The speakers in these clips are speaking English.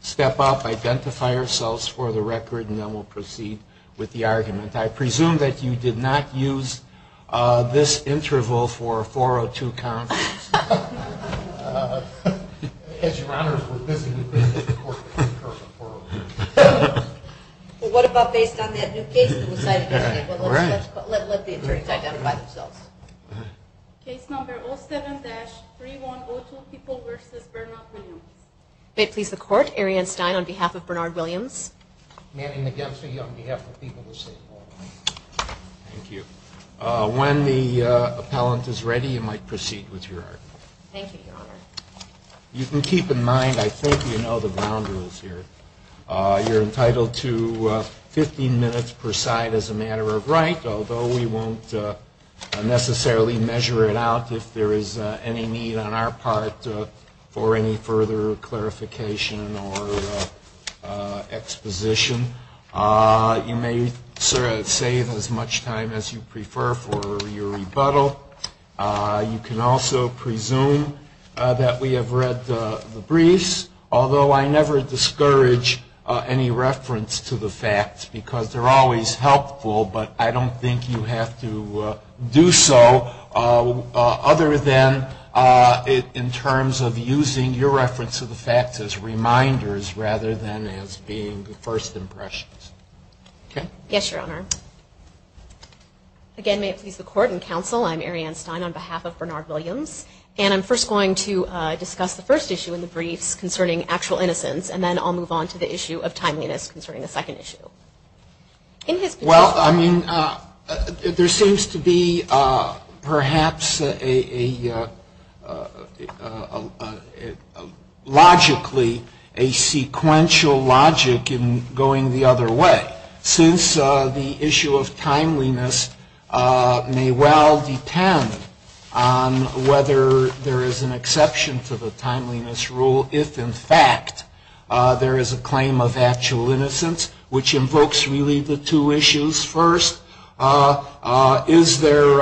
step up, identify ourselves for the record, and then we'll proceed with the argument. I presume that you did not use this interval for a 402 conference. Well, what about based on that new case? Let the attorneys identify themselves. Case number 07-3102, People v. Bernard Williams. May it please the Court, Arianne Stein on behalf of Bernard Williams. Manny McGinsey on behalf of People v. State Law. Thank you. When the appellant is ready, you might proceed with your argument. Thank you, Your Honor. You can keep in mind, I think you know the ground rules here. You're entitled to 15 minutes per side as a matter of right, although we won't necessarily measure it out if there is any need on our part for any further clarification or exposition. You may save as much time as you prefer for your rebuttal. You can also presume that we have read the briefs, although I never discourage any reference to the facts because they're always helpful, but I don't think you have to do so other than in terms of using your reference to the facts as reminders rather than as being first impressions. Yes, Your Honor. Again, may it please the Court and Counsel, I'm Arianne Stein on behalf of Bernard Williams, and I'm first going to discuss the first issue in the briefs concerning actual innocence, and then I'll move on to the issue of timeliness concerning the second issue. Well, I mean, there seems to be perhaps logically a sequential logic in going the other way, since the issue of timeliness may well depend on whether there is an exception to the timeliness rule if, in fact, there is a claim of actual innocence, which invokes really the two issues. First, is there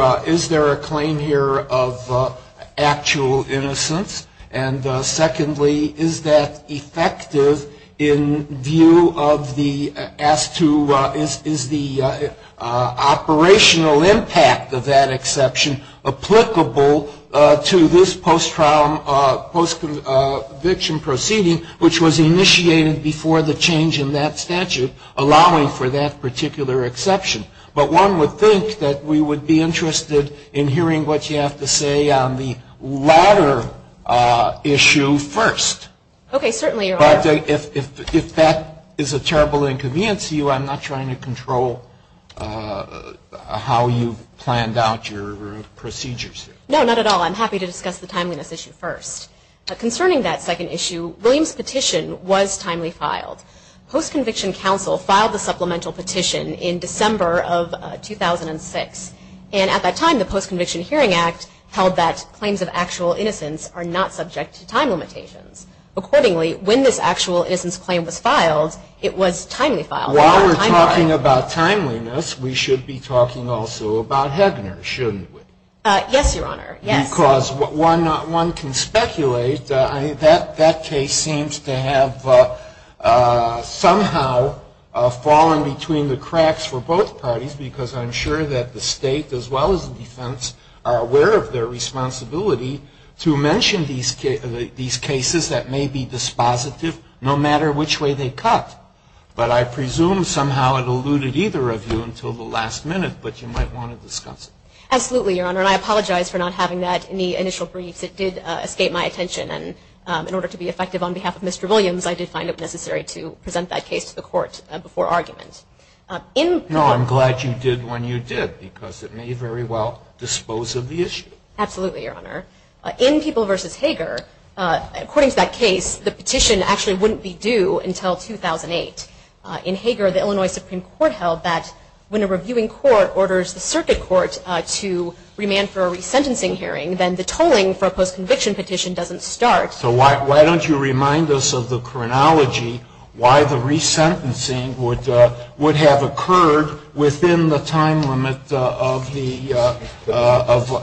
a claim here of actual innocence? And secondly, is that effective in view of the asked to, is the operational impact of that exception applicable to this post-trial, post-conviction proceeding, which was initiated before the change in that statute, allowing for that particular exception? But one would think that we would be interested in hearing what you have to say on the latter issue first. Okay, certainly, Your Honor. But if that is a terrible inconvenience to you, I'm not trying to control how you planned out your procedures here. No, not at all. I'm happy to discuss the timeliness issue first. Concerning that second issue, Williams' petition was timely filed. Post-conviction counsel filed the supplemental petition in December of 2006. And at that time, the Post-Conviction Hearing Act held that claims of actual innocence are not subject to time limitations. Accordingly, when this actual innocence claim was filed, it was timely filed. While we're talking about timeliness, we should be talking also about Hegner, shouldn't we? Yes, Your Honor, yes. Because one can speculate that that case seems to have somehow fallen between the cracks for both parties, because I'm sure that the State, as well as the defense, are aware of their responsibility to mention these cases that may be dispositive, no matter which way they cut. But I presume somehow it eluded either of you until the last minute, but you might want to discuss it. Absolutely, Your Honor. And I apologize for not having that in the initial briefs. It did escape my attention. And in order to be effective on behalf of Mr. Williams, I did find it necessary to present that case to the court before argument. No, I'm glad you did when you did, because it may very well dispose of the issue. Absolutely, Your Honor. In People v. Heger, according to that case, the petition actually wouldn't be due until 2008. In Heger, the Illinois Supreme Court held that when a reviewing court orders the circuit court to remand for a resentencing hearing, then the tolling for a post-conviction petition doesn't start. So why don't you remind us of the chronology, why the resentencing would have occurred within the time limit of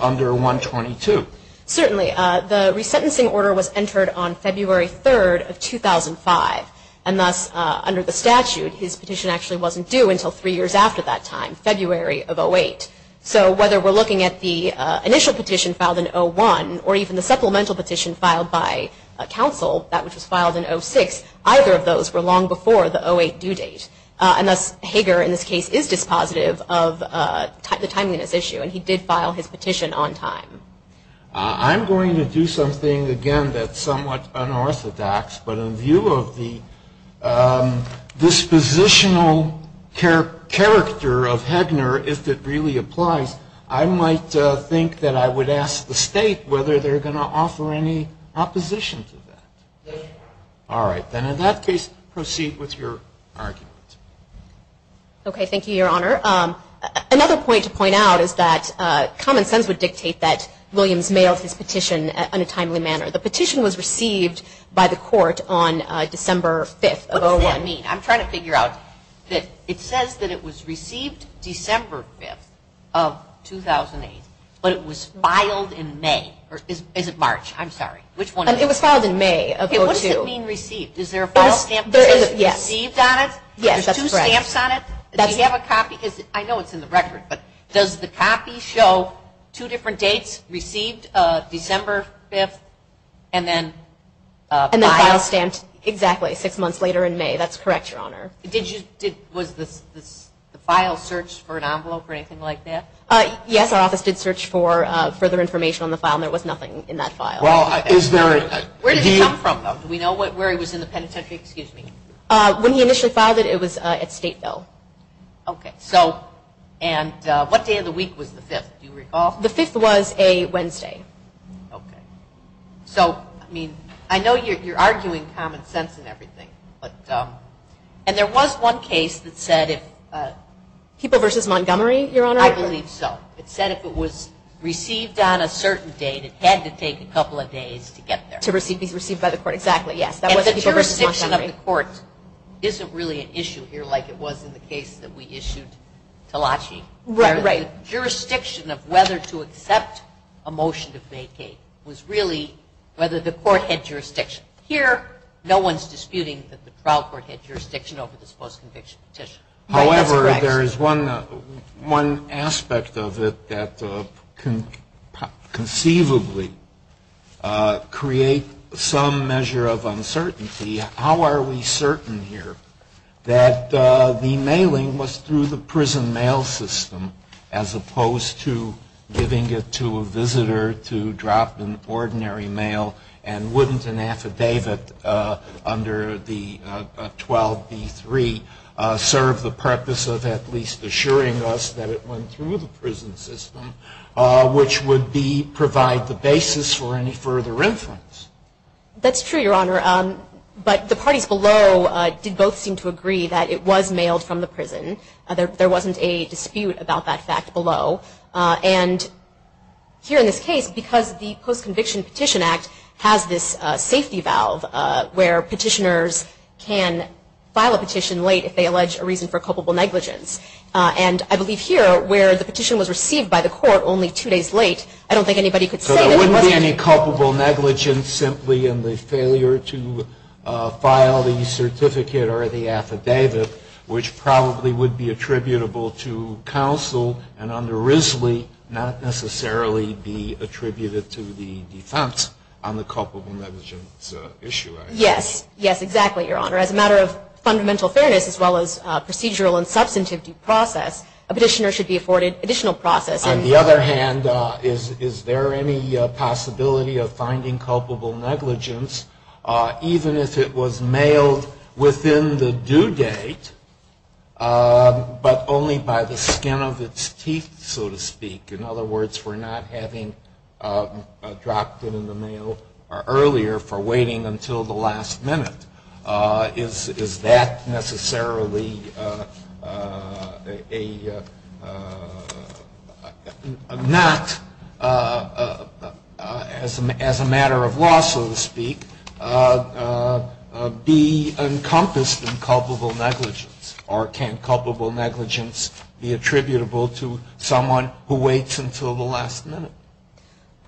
under 122? Certainly. The resentencing order was entered on February 3rd of 2005. And thus, under the statute, his petition actually wasn't due until three years after that time, February of 08. So whether we're looking at the initial petition filed in 01 or even the supplemental petition filed by counsel, that which was filed in 06, either of those were long before the 08 due date. And thus, Heger, in this case, is dispositive of the timeliness issue, and he did file his petition on time. I'm going to do something, again, that's somewhat unorthodox. But in view of the dispositional character of Hegner, if it really applies, I might think that I would ask the State whether they're going to offer any opposition to that. Yes, Your Honor. All right. Then in that case, proceed with your argument. Okay. Thank you, Your Honor. Another point to point out is that common sense would dictate that Williams mailed his petition in a timely manner. The petition was received by the court on December 5th of 01. What does that mean? I'm trying to figure out. It says that it was received December 5th of 2008, but it was filed in May. Or is it March? I'm sorry. Which one is it? It was filed in May of 02. What does it mean received? Is there a file stamp that says received on it? Yes, that's correct. There's two stamps on it? Do you have a copy? I know it's in the record, but does the copy show two different dates, received December 5th, and then file? And then file stamped, exactly, six months later in May. That's correct, Your Honor. Was the file searched for an envelope or anything like that? Yes, our office did search for further information on the file, and there was nothing in that file. Where did it come from, though? Do we know where it was in the penitentiary? When he initially filed it, it was at Stateville. Okay. And what day of the week was the 5th? Do you recall? The 5th was a Wednesday. Okay. So, I mean, I know you're arguing common sense and everything, and there was one case that said if – People v. Montgomery, Your Honor? I believe so. It said if it was received on a certain date, it had to take a couple of days to get there. To be received by the court. Exactly, yes. And the jurisdiction of the court isn't really an issue here like it was in the case that we issued Talachi. Right, right. The jurisdiction of whether to accept a motion to vacate was really whether the court had jurisdiction. Here, no one's disputing that the trial court had jurisdiction over this post-conviction petition. That's correct. There is one aspect of it that conceivably creates some measure of uncertainty. How are we certain here that the mailing was through the prison mail system as opposed to giving it to a visitor to drop an ordinary mail and wouldn't an affidavit under the 12b-3 serve the purpose of at least assuring us that it went through the prison system, which would provide the basis for any further inference? That's true, Your Honor. But the parties below did both seem to agree that it was mailed from the prison. There wasn't a dispute about that fact below. And here in this case, because the Post-Conviction Petition Act has this safety valve where petitioners can file a petition late if they allege a reason for culpable negligence. And I believe here where the petition was received by the court only two days late, I don't think anybody could say that it wasn't. So there wouldn't be any culpable negligence simply in the failure to file the certificate or the affidavit, which probably would be attributable to counsel and under Risley not necessarily be attributed to the defense on the culpable negligence issue. Yes. Yes, exactly, Your Honor. As a matter of fundamental fairness, as well as procedural and substantive due process, a petitioner should be afforded additional process. On the other hand, is there any possibility of finding culpable negligence even if it was mailed within the due date but only by the skin of its teeth, so to speak? In other words, for not having dropped it in the mail earlier for waiting until the last minute. Is that necessarily a not as a matter of law, so to speak, be encompassed in culpable negligence? Or can culpable negligence be attributable to someone who waits until the last minute?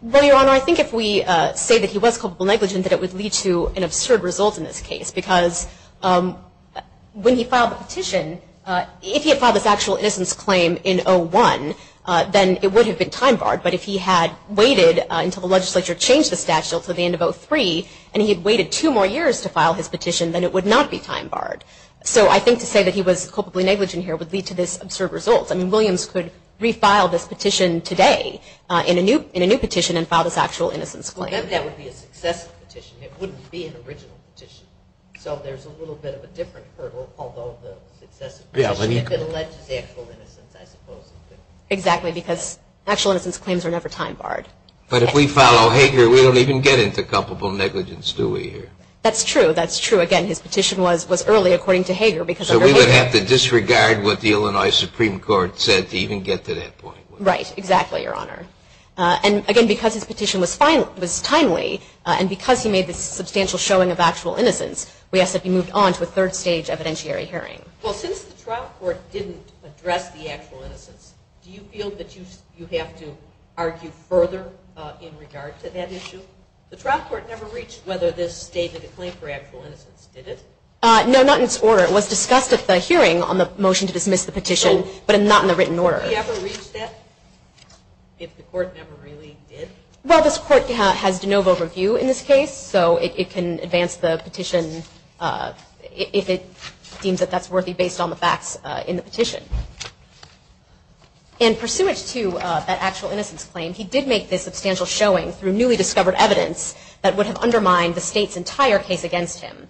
Well, Your Honor, I think if we say that he was culpable negligent, that it would lead to an absurd result in this case. Because when he filed the petition, if he had filed his actual innocence claim in 01, then it would have been time barred. But if he had waited until the legislature changed the statute until the end of 03, and he had waited two more years to file his petition, then it would not be time barred. So I think to say that he was culpably negligent here would lead to this absurd result. I mean, Williams could refile this petition today in a new petition and file this actual innocence claim. But then that would be a successive petition. It wouldn't be an original petition. So there's a little bit of a different hurdle, although the successive petition, if it alleges actual innocence, I suppose. Exactly, because actual innocence claims are never time barred. But if we follow Hager, we don't even get into culpable negligence, do we here? That's true. That's true. Again, his petition was early, according to Hager. So we would have to disregard what the Illinois Supreme Court said to even get to that point. Right. Exactly, Your Honor. And, again, because his petition was timely and because he made this substantial showing of actual innocence, we ask that he move on to a third stage evidentiary hearing. Well, since the trial court didn't address the actual innocence, do you feel that you have to argue further in regard to that issue? The trial court never reached whether this stated a claim for actual innocence, did it? No, not in its order. It was discussed at the hearing on the motion to dismiss the petition, but not in the written order. So would he ever reach that if the court never really did? Well, this court has de novo review in this case, so it can advance the petition if it deems that that's worthy based on the facts in the petition. And pursuant to that actual innocence claim, he did make this substantial showing through newly discovered evidence that would have undermined the State's entire case against him.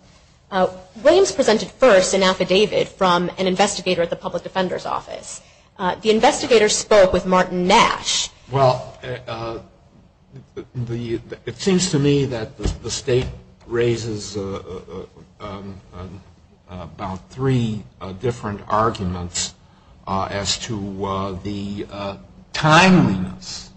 Williams presented first an affidavit from an investigator at the Public Defender's Office. The investigator spoke with Martin Nash. Well, it seems to me that the State raises about three different arguments as to the timeliness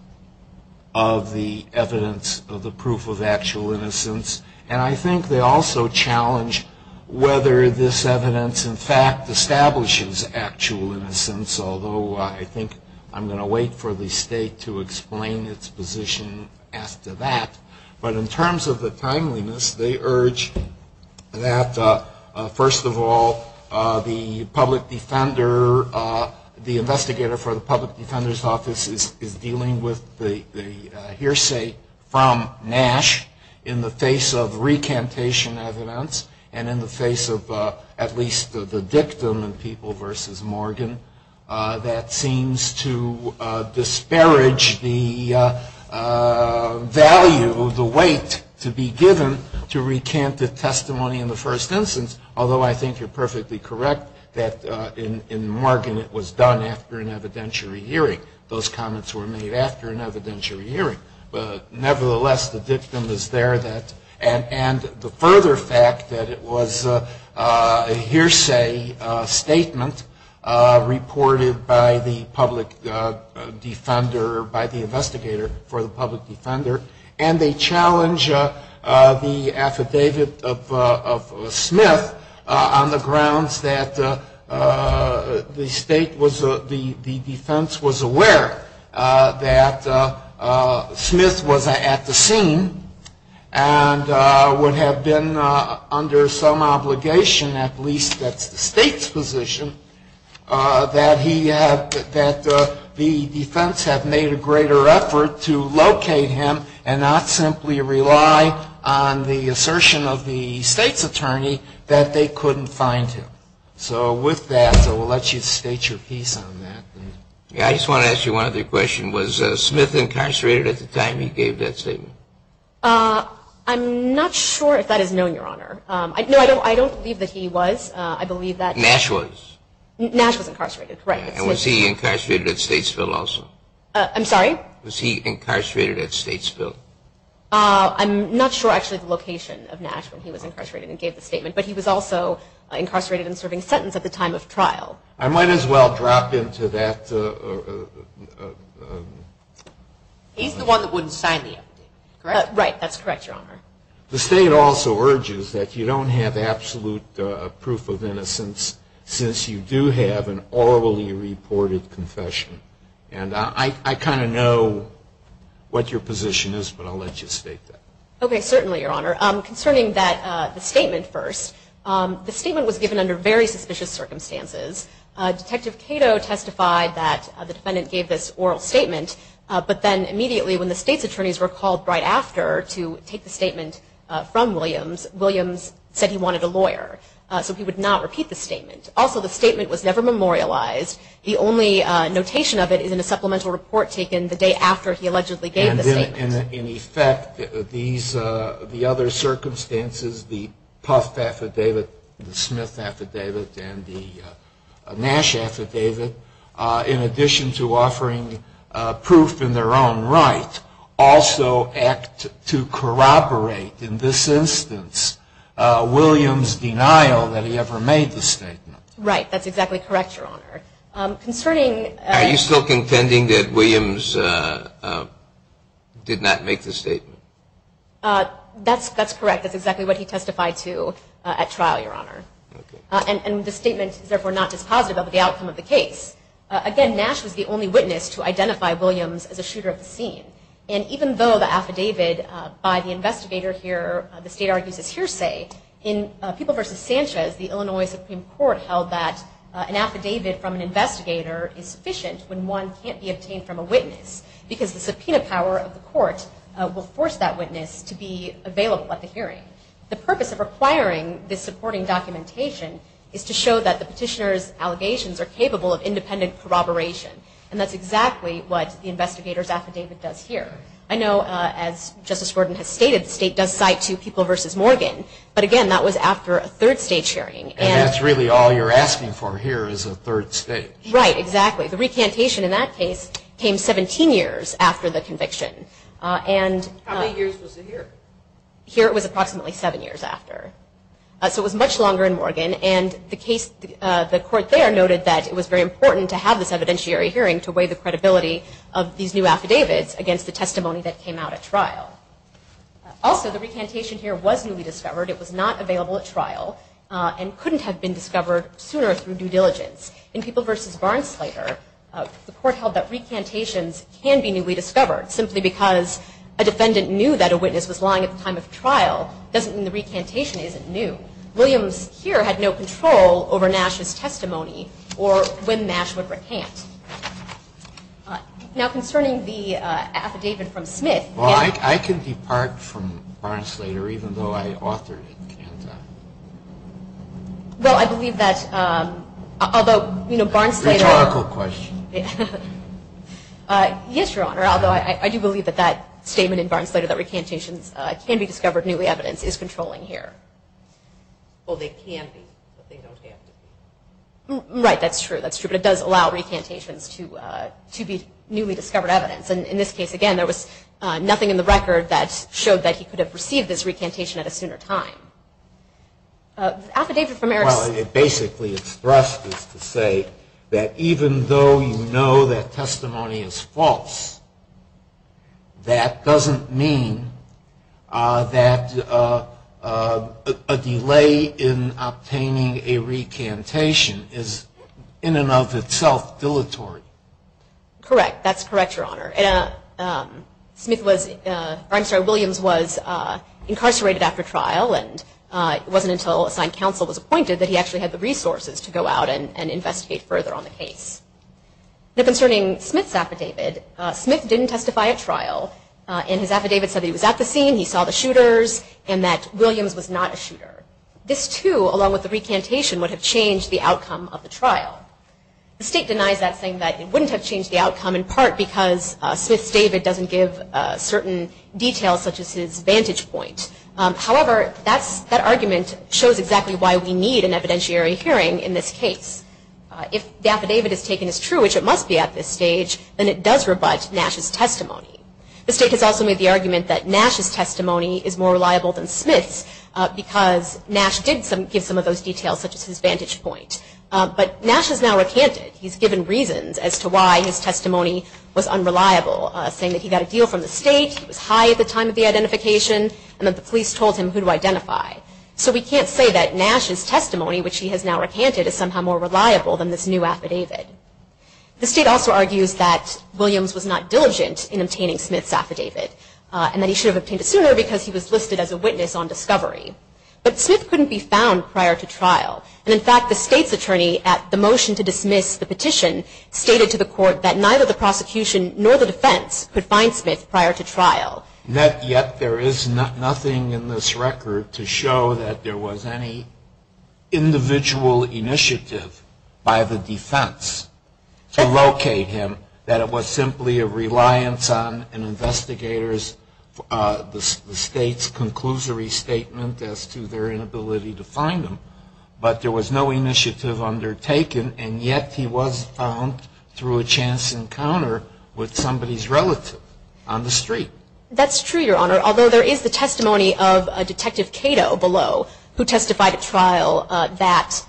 of the evidence of the proof of actual innocence. And I think they also challenge whether this evidence in fact establishes actual innocence, although I think I'm going to wait for the State to explain its position as to that. But in terms of the timeliness, they urge that, first of all, the public defender, the investigator for the Public Defender's Office is dealing with the hearsay from Nash in the face of recantation evidence and in the face of at least the dictum in People v. Morgan that seems to disparage the value, the weight to be given to recant the testimony in the first instance, although I think you're perfectly correct that in Morgan it was done after an evidentiary hearing. Those comments were made after an evidentiary hearing. But nevertheless, the dictum is there that, and the further fact that it was a hearsay statement reported by the public defender, by the investigator for the public defender, and they challenge the affidavit of Smith on the grounds that the State was, the defense was aware that Smith was at the scene and would have been under some obligation, at least that's the State's position, that the defense had made a greater effort to locate him and not simply rely on the assertion of the State's attorney that they couldn't find him. So with that, I will let you state your piece on that. I just want to ask you one other question. Was Smith incarcerated at the time he gave that statement? I'm not sure if that is known, Your Honor. No, I don't believe that he was. Nash was. Nash was incarcerated, right. And was he incarcerated at Statesville also? I'm sorry? Was he incarcerated at Statesville? I'm not sure actually the location of Nash when he was incarcerated and gave the statement, but he was also incarcerated and serving sentence at the time of trial. I might as well drop into that. He's the one that wouldn't sign the affidavit, correct? Right, that's correct, Your Honor. The State also urges that you don't have absolute proof of innocence since you do have an orally reported confession. And I kind of know what your position is, but I'll let you state that. Okay, certainly, Your Honor. Concerning that statement first, the statement was given under very suspicious circumstances. Detective Cato testified that the defendant gave this oral statement, but then immediately when the State's attorneys were called right after to take the statement from Williams, Williams said he wanted a lawyer. So he would not repeat the statement. Also, the statement was never memorialized. The only notation of it is in a supplemental report taken the day after he allegedly gave the statement. And in effect, the other circumstances, the Puff Affidavit, the Smith Affidavit, and the Nash Affidavit, in addition to offering proof in their own right, also act to corroborate, in this instance, Williams' denial that he ever made the statement. Right, that's exactly correct, Your Honor. Are you still contending that Williams did not make the statement? That's correct. That's exactly what he testified to at trial, Your Honor. And the statement is therefore not dispositive of the outcome of the case. Again, Nash was the only witness to identify Williams as a shooter at the scene. And even though the affidavit by the investigator here, the State argues, is hearsay, in People v. Sanchez, the Illinois Supreme Court held that an affidavit from an investigator is sufficient when one can't be obtained from a witness because the subpoena power of the court will force that witness to be available at the hearing. The purpose of requiring this supporting documentation is to show that the petitioner's allegations are capable of independent corroboration. And that's exactly what the investigator's affidavit does here. I know, as Justice Gordon has stated, the State does cite two People v. Morgan, but again, that was after a third state hearing. And that's really all you're asking for here is a third state. Right, exactly. The recantation in that case came 17 years after the conviction. How many years was it here? Here it was approximately seven years after. So it was much longer in Morgan, and the court there noted that it was very important to have this evidentiary hearing to weigh the credibility of these new affidavits against the testimony that came out at trial. Also, the recantation here was newly discovered. It was not available at trial and couldn't have been discovered sooner through due diligence. In People v. Barnsleder, the court held that recantations can be newly discovered simply because a defendant knew that a witness was lying at the time of trial doesn't mean the recantation isn't new. Williams here had no control over Nash's testimony or when Nash would recant. Now, concerning the affidavit from Smith. Well, I can depart from Barnsleder even though I authored it. Well, I believe that although Barnsleder. Rhetorical question. Yes, Your Honor, although I do believe that that statement in Barnsleder that recantations can be discovered newly evidence is controlling here. Well, they can be, but they don't have to be. Right, that's true. That's true, but it does allow recantations to be newly discovered evidence. And in this case, again, there was nothing in the record that showed that he could have received this recantation at a sooner time. Affidavit from Erickson. Well, it basically expresses to say that even though you know that testimony is false, that doesn't mean that a delay in obtaining a recantation is in and of itself dilatory. Correct. That's correct, Your Honor. Williams was incarcerated after trial, and it wasn't until assigned counsel was appointed that he actually had the resources to go out and investigate further on the case. Now, concerning Smith's affidavit, Smith didn't testify at trial, and his affidavit said he was at the scene, he saw the shooters, and that Williams was not a shooter. This, too, along with the recantation would have changed the outcome of the trial. The state denies that, saying that it wouldn't have changed the outcome in part because Smith's David doesn't give certain details such as his vantage point. However, that argument shows exactly why we need an evidentiary hearing in this case. If the affidavit is taken as true, which it must be at this stage, then it does rebut Nash's testimony. The state has also made the argument that Nash's testimony is more reliable than Smith's because Nash did give some of those details such as his vantage point. But Nash has now recanted. He's given reasons as to why his testimony was unreliable, saying that he got a deal from the state, he was high at the time of the identification, and that the police told him who to identify. So we can't say that Nash's testimony, which he has now recanted, is somehow more reliable than this new affidavit. The state also argues that Williams was not diligent in obtaining Smith's affidavit and that he should have obtained it sooner because he was listed as a witness on discovery. But Smith couldn't be found prior to trial. And, in fact, the state's attorney, at the motion to dismiss the petition, stated to the court that neither the prosecution nor the defense could find Smith prior to trial. Yet there is nothing in this record to show that there was any individual initiative by the defense to locate him, that it was simply a reliance on an investigator's, the state's conclusory statement as to their inability to find him. But there was no initiative undertaken, and yet he was found through a chance encounter with somebody's relative on the street. That's true, Your Honor. Although there is the testimony of Detective Cato below, who testified at trial that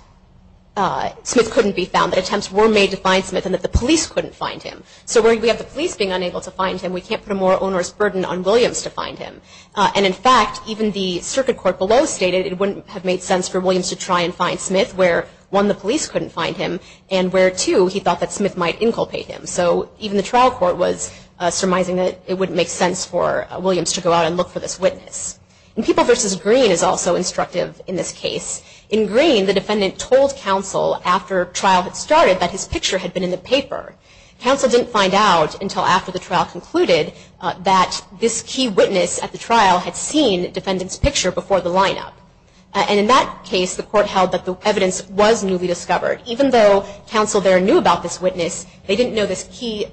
Smith couldn't be found, that attempts were made to find Smith and that the police couldn't find him. So we have the police being unable to find him. We can't put a more onerous burden on Williams to find him. And, in fact, even the circuit court below stated it wouldn't have made sense for Williams to try and find Smith where, one, the police couldn't find him, and where, two, he thought that Smith might inculpate him. So even the trial court was surmising that it wouldn't make sense for Williams to go out and look for this witness. And People v. Green is also instructive in this case. In Green, the defendant told counsel after trial had started that his picture had been in the paper. Counsel didn't find out until after the trial concluded that this key witness at the trial had seen the defendant's picture before the lineup. And in that case, the court held that the evidence was newly discovered. Even though counsel there knew about this witness, they didn't know this key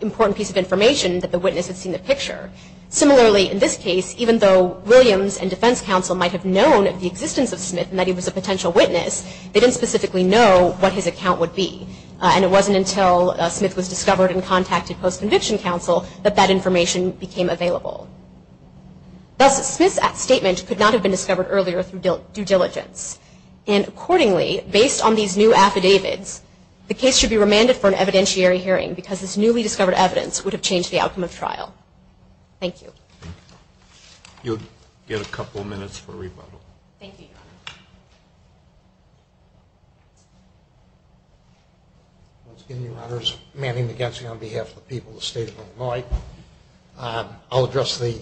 important piece of information that the witness had seen the picture. Similarly, in this case, even though Williams and defense counsel might have known of the existence of Smith and that he was a potential witness, they didn't specifically know what his account would be. And it wasn't until Smith was discovered and contacted post-conviction counsel that that information became available. Thus, Smith's statement could not have been discovered earlier through due diligence. And accordingly, based on these new affidavits, the case should be remanded for an evidentiary hearing because this newly discovered evidence would have changed the outcome of trial. Thank you. You'll get a couple of minutes for rebuttal. Thank you, Your Honor. Once again, Your Honors, Manny McGinsey on behalf of the people of the State of Illinois. I'll address the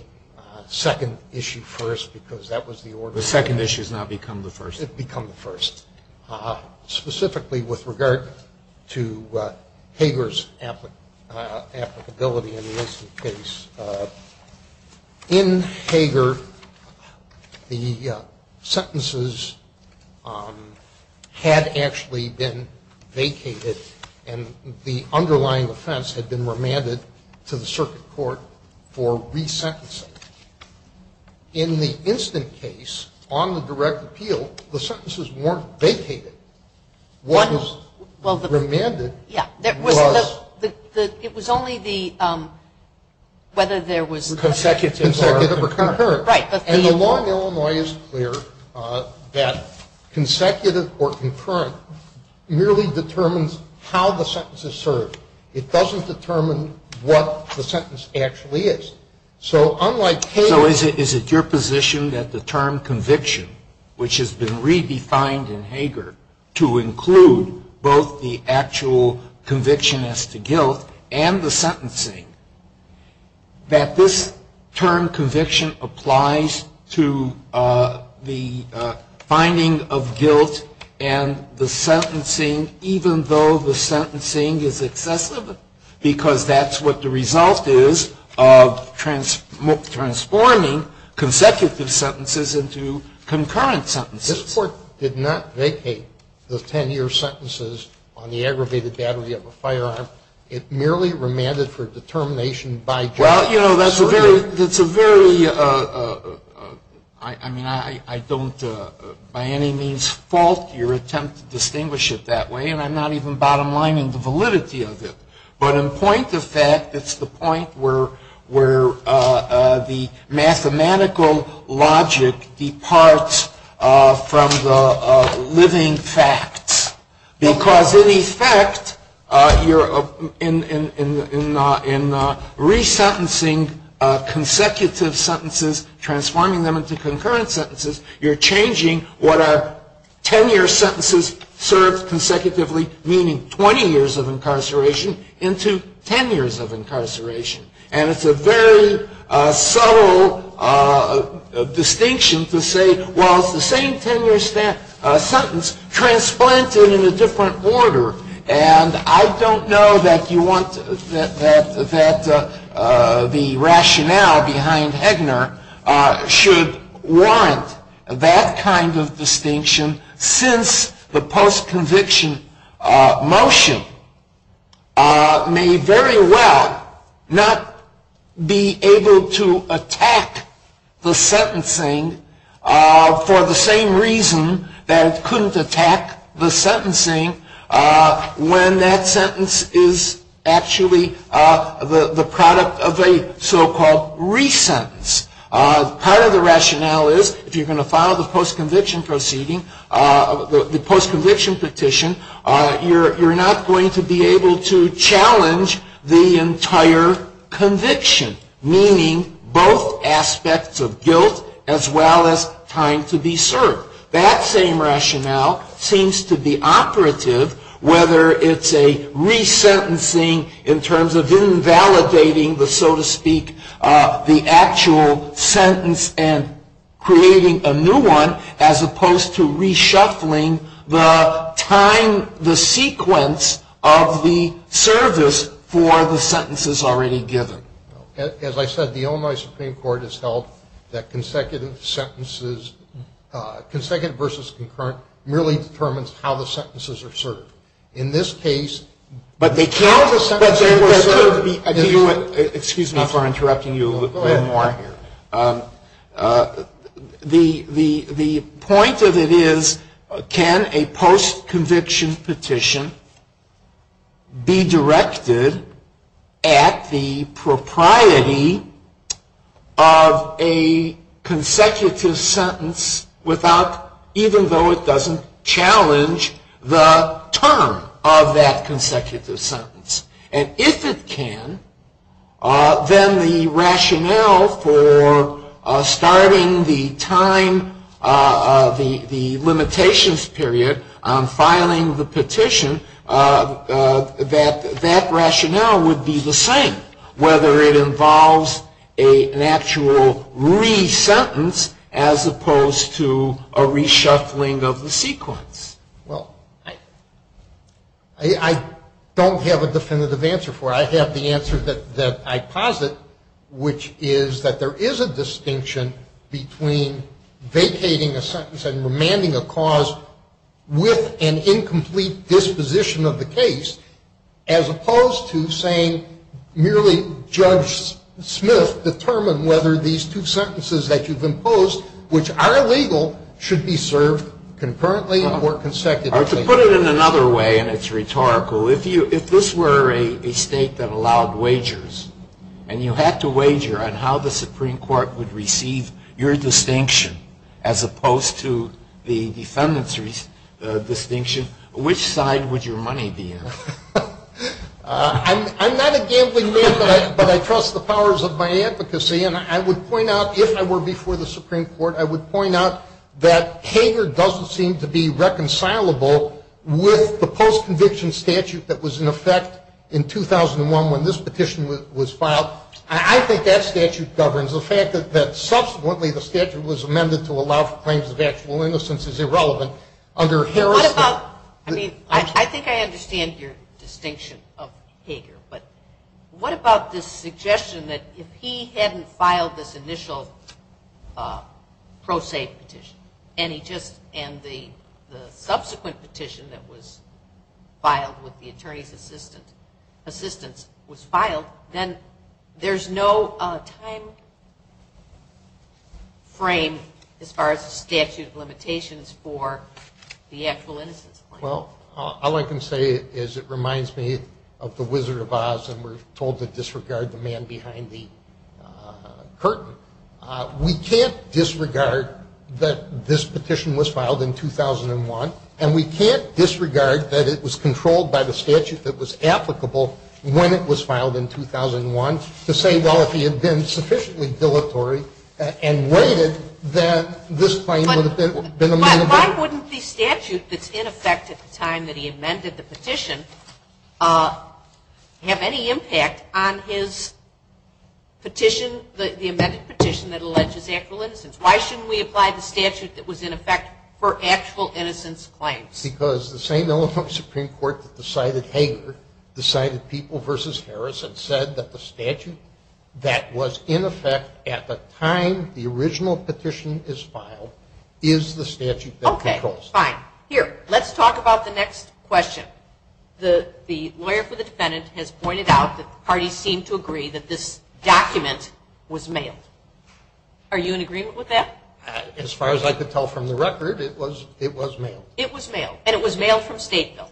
second issue first because that was the order. The second issue has now become the first. It's become the first. Specifically with regard to Hager's applicability in the Wilson case. In Hager, the sentences had actually been vacated and the underlying offense had been remanded to the circuit court for resentencing. In the instant case, on the direct appeal, the sentences weren't vacated. One was remanded. Yeah. It was only the whether there was consecutive or concurrent. Right. And the law in Illinois is clear that consecutive or concurrent merely determines how the sentence is served. It doesn't determine what the sentence actually is. So unlike Hager. So is it your position that the term conviction, which has been redefined in Hager to include both the actual conviction as to guilt and the sentencing, that this term conviction applies to the finding of guilt and the sentencing even though the sentencing is excessive? Because that's what the result is of transforming consecutive sentences into concurrent sentences. This Court did not vacate the 10-year sentences on the aggravated battery of a firearm. It merely remanded for determination by justice. Well, you know, that's a very, I mean, I don't by any means fault your attempt to distinguish it that way, and I'm not even bottom lining the validity of it. But in point of fact, it's the point where the mathematical logic departs from the living facts. Because in effect, in resentencing consecutive sentences, transforming them into concurrent sentences, you're changing what are 10-year sentences served consecutively, meaning 20 years of incarceration, and it's a very subtle distinction to say, well, it's the same 10-year sentence transplanted in a different order. And I don't know that you want, that the rationale behind Hegner should warrant that kind of distinction since the post-conviction motion may very well not be able to attack the sentencing for the same reason that it couldn't attack the sentencing when that sentence is actually the product of a so-called resentence. Part of the rationale is if you're going to file the post-conviction proceeding, the post-conviction petition, you're not going to be able to challenge the entire conviction, meaning both aspects of guilt as well as time to be served. That same rationale seems to be operative whether it's a resentencing in terms of invalidating the, so to speak, the actual sentence and creating a new one as opposed to reshuffling the time, the sequence of the service for the sentences already given. As I said, the Illinois Supreme Court has held that consecutive sentences, consecutive versus concurrent merely determines how the sentences are served. In this case, Excuse me for interrupting you a little bit more here. The point of it is can a post-conviction petition be directed at the propriety of a consecutive sentence even though it doesn't challenge the term of that consecutive sentence? And if it can, then the rationale for starting the time, the limitations period on filing the petition, that rationale would be the same whether it involves an actual resentence as opposed to a reshuffling of the sequence. Well, I don't have a definitive answer for it. I have the answer that I posit, which is that there is a distinction between vacating a sentence and remanding a cause with an incomplete disposition of the case as opposed to saying merely Judge Smith, determine whether these two sentences that you've imposed, which are legal, should be served concurrently or consecutively. To put it in another way, and it's rhetorical, if this were a state that allowed wagers and you had to wager on how the Supreme Court would receive your distinction as opposed to the defendant's distinction, which side would your money be in? I'm not a gambling man, but I trust the powers of my advocacy. And I would point out, if I were before the Supreme Court, I would point out that Hager doesn't seem to be reconcilable with the post-conviction statute that was in effect in 2001 when this petition was filed. I think that statute governs. The fact that subsequently the statute was amended to allow for claims of actual innocence is irrelevant under Harris. I mean, I think I understand your distinction of Hager, but what about this suggestion that if he hadn't filed this initial pro se petition and the subsequent petition that was filed with the attorney's assistance was filed, then there's no time frame as far as statute of limitations for the actual innocence claim. Well, all I can say is it reminds me of the Wizard of Oz and we're told to disregard the man behind the curtain. We can't disregard that this petition was filed in 2001 and we can't disregard that it was controlled by the statute that was applicable when it was filed in 2001 to say, well, if he had been sufficiently dilatory and waited, that this claim would have been amended. But why wouldn't the statute that's in effect at the time that he amended the petition have any impact on his petition, the amended petition that alleges actual innocence? Why shouldn't we apply the statute that was in effect for actual innocence claims? Because the same element of Supreme Court that decided Hager decided people versus Harris and said that the statute that was in effect at the time the original petition is filed is the statute that controls. Okay, fine. Here, let's talk about the next question. The lawyer for the defendant has pointed out that the parties seem to agree that this document was mailed. Are you in agreement with that? As far as I could tell from the record, it was mailed. It was mailed, and it was mailed from Stateville.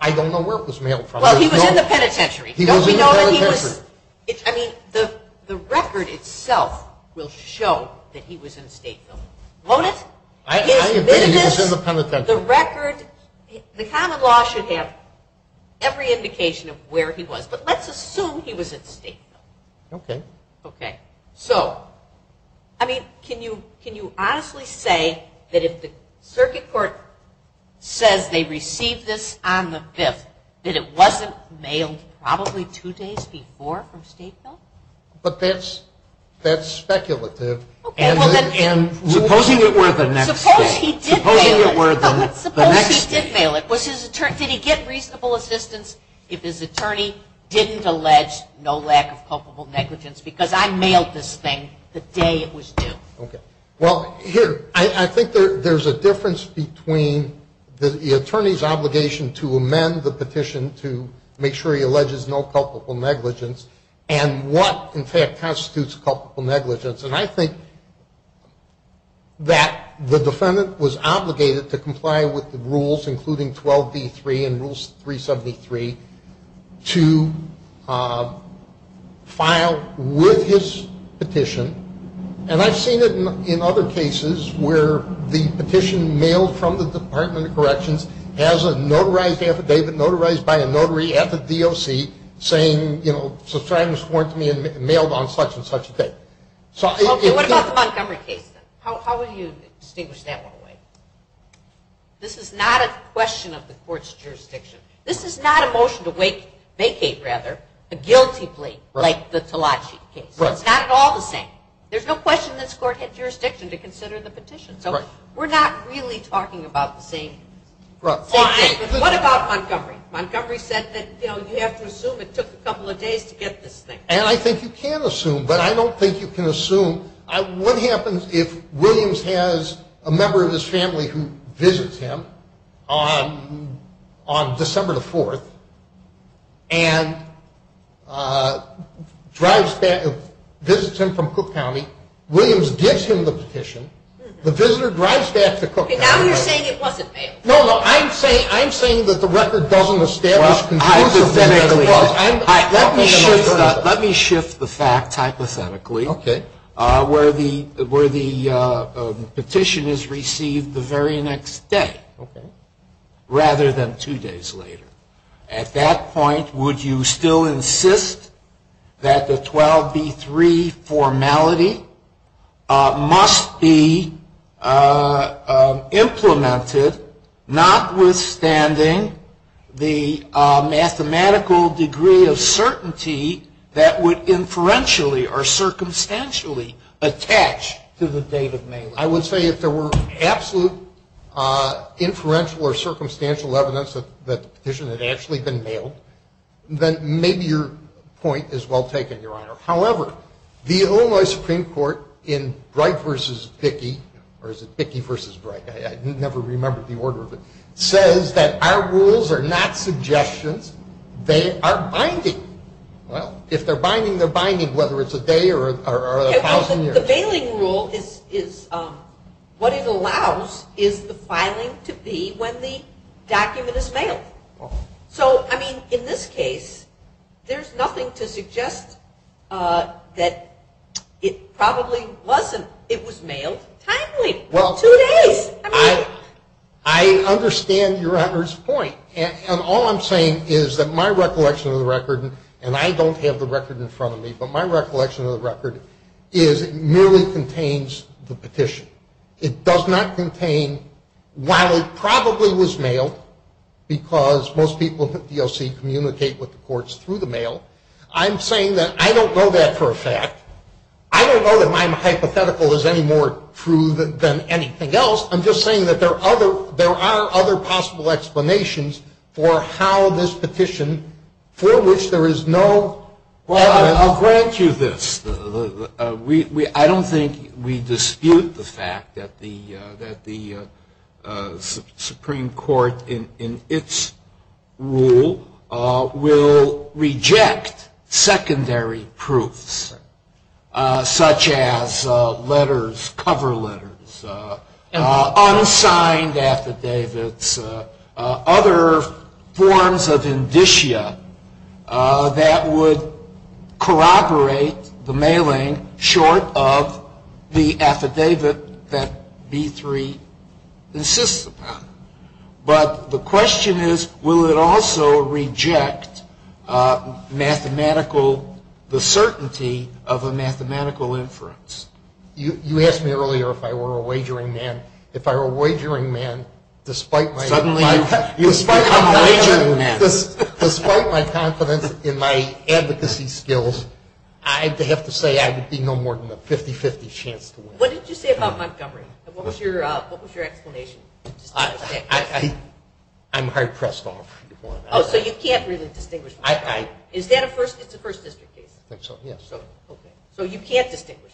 I don't know where it was mailed from. Well, he was in the penitentiary. He was in the penitentiary. I mean, the record itself will show that he was in Stateville. I admit he was in the penitentiary. The record, the common law should have every indication of where he was, but let's assume he was in Stateville. Okay. Okay. So, I mean, can you honestly say that if the circuit court says they received this on the 5th, that it wasn't mailed probably two days before from Stateville? But that's speculative. Supposing it were the next day. Suppose he did mail it. Suppose he did mail it. Did he get reasonable assistance if his attorney didn't allege no lack of culpable negligence? Because I mailed this thing the day it was due. Okay. Well, here, I think there's a difference between the attorney's obligation to amend the petition to make sure he alleges no culpable negligence and what, in fact, constitutes culpable negligence. And I think that the defendant was obligated to comply with the rules, including 12D3 and Rules 373, to file with his petition. And I've seen it in other cases where the petition mailed from the Department of Corrections has a notarized affidavit, notarized by a notary at the DOC, saying, you know, subscribers weren't to be mailed on such and such a date. Okay. What about the Montgomery case, then? How would you distinguish that one away? This is not a question of the court's jurisdiction. This is not a motion to vacate, rather, a guilty plea like the Talachi case. Right. It's not at all the same. There's no question this court had jurisdiction to consider the petition. Right. So we're not really talking about the same thing. Right. What about Montgomery? Montgomery said that, you know, you have to assume it took a couple of days to get this thing. And I think you can assume, but I don't think you can assume. What happens if Williams has a member of his family who visits him on December the 4th and drives back, visits him from Cook County, Williams gives him the petition, the visitor drives back to Cook County. Now you're saying it wasn't mailed. No, no. I'm saying that the record doesn't establish conclusively. Well, hypothetically. Let me shift the facts hypothetically. Okay. Where the petition is received the very next day rather than two days later. At that point, would you still insist that the 12B3 formality must be implemented, notwithstanding the mathematical degree of certainty that would inferentially or circumstantially attach to the date of mailing? I would say if there were absolute inferential or circumstantial evidence that the petition had actually been mailed, then maybe your point is well taken, Your Honor. However, the Illinois Supreme Court in Bright v. Bickey, or is it Bickey v. Bright, I never remembered the order of it, says that our rules are not suggestions, they are binding. Well, if they're binding, they're binding, whether it's a day or a thousand years. The bailing rule is what it allows is the filing to be when the document is mailed. So, I mean, in this case, there's nothing to suggest that it probably wasn't. It was mailed timely, two days. I understand Your Honor's point. And all I'm saying is that my recollection of the record, and I don't have the record in front of me, but my recollection of the record is it merely contains the petition. It does not contain, while it probably was mailed, because most people at DOC communicate with the courts through the mail, I'm saying that I don't know that for a fact. I don't know that my hypothetical is any more true than anything else. I'm just saying that there are other possible explanations for how this petition, for which there is no. Well, I'll grant you this. I don't think we dispute the fact that the Supreme Court, in its rule, will reject secondary proofs, such as letters, cover letters, unsigned affidavits, other forms of indicia that would corroborate the mailing short of the affidavit that B-3 insists upon. But the question is, will it also reject the certainty of a mathematical inference? You asked me earlier if I were a wagering man. Despite my confidence in my advocacy skills, I have to say I would be no more than a 50-50 chance to win. What did you say about Montgomery? What was your explanation? I'm hard pressed off. Oh, so you can't really distinguish. Is that a first district case? I think so, yes. So you can't distinguish.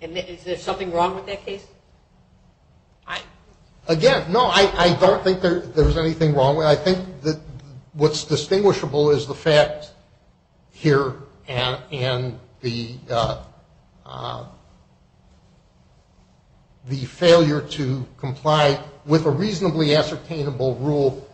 Is there something wrong with that case? Again, no, I don't think there's anything wrong with it. I think that what's distinguishable is the fact here and the failure to comply with a reasonably ascertainable rule.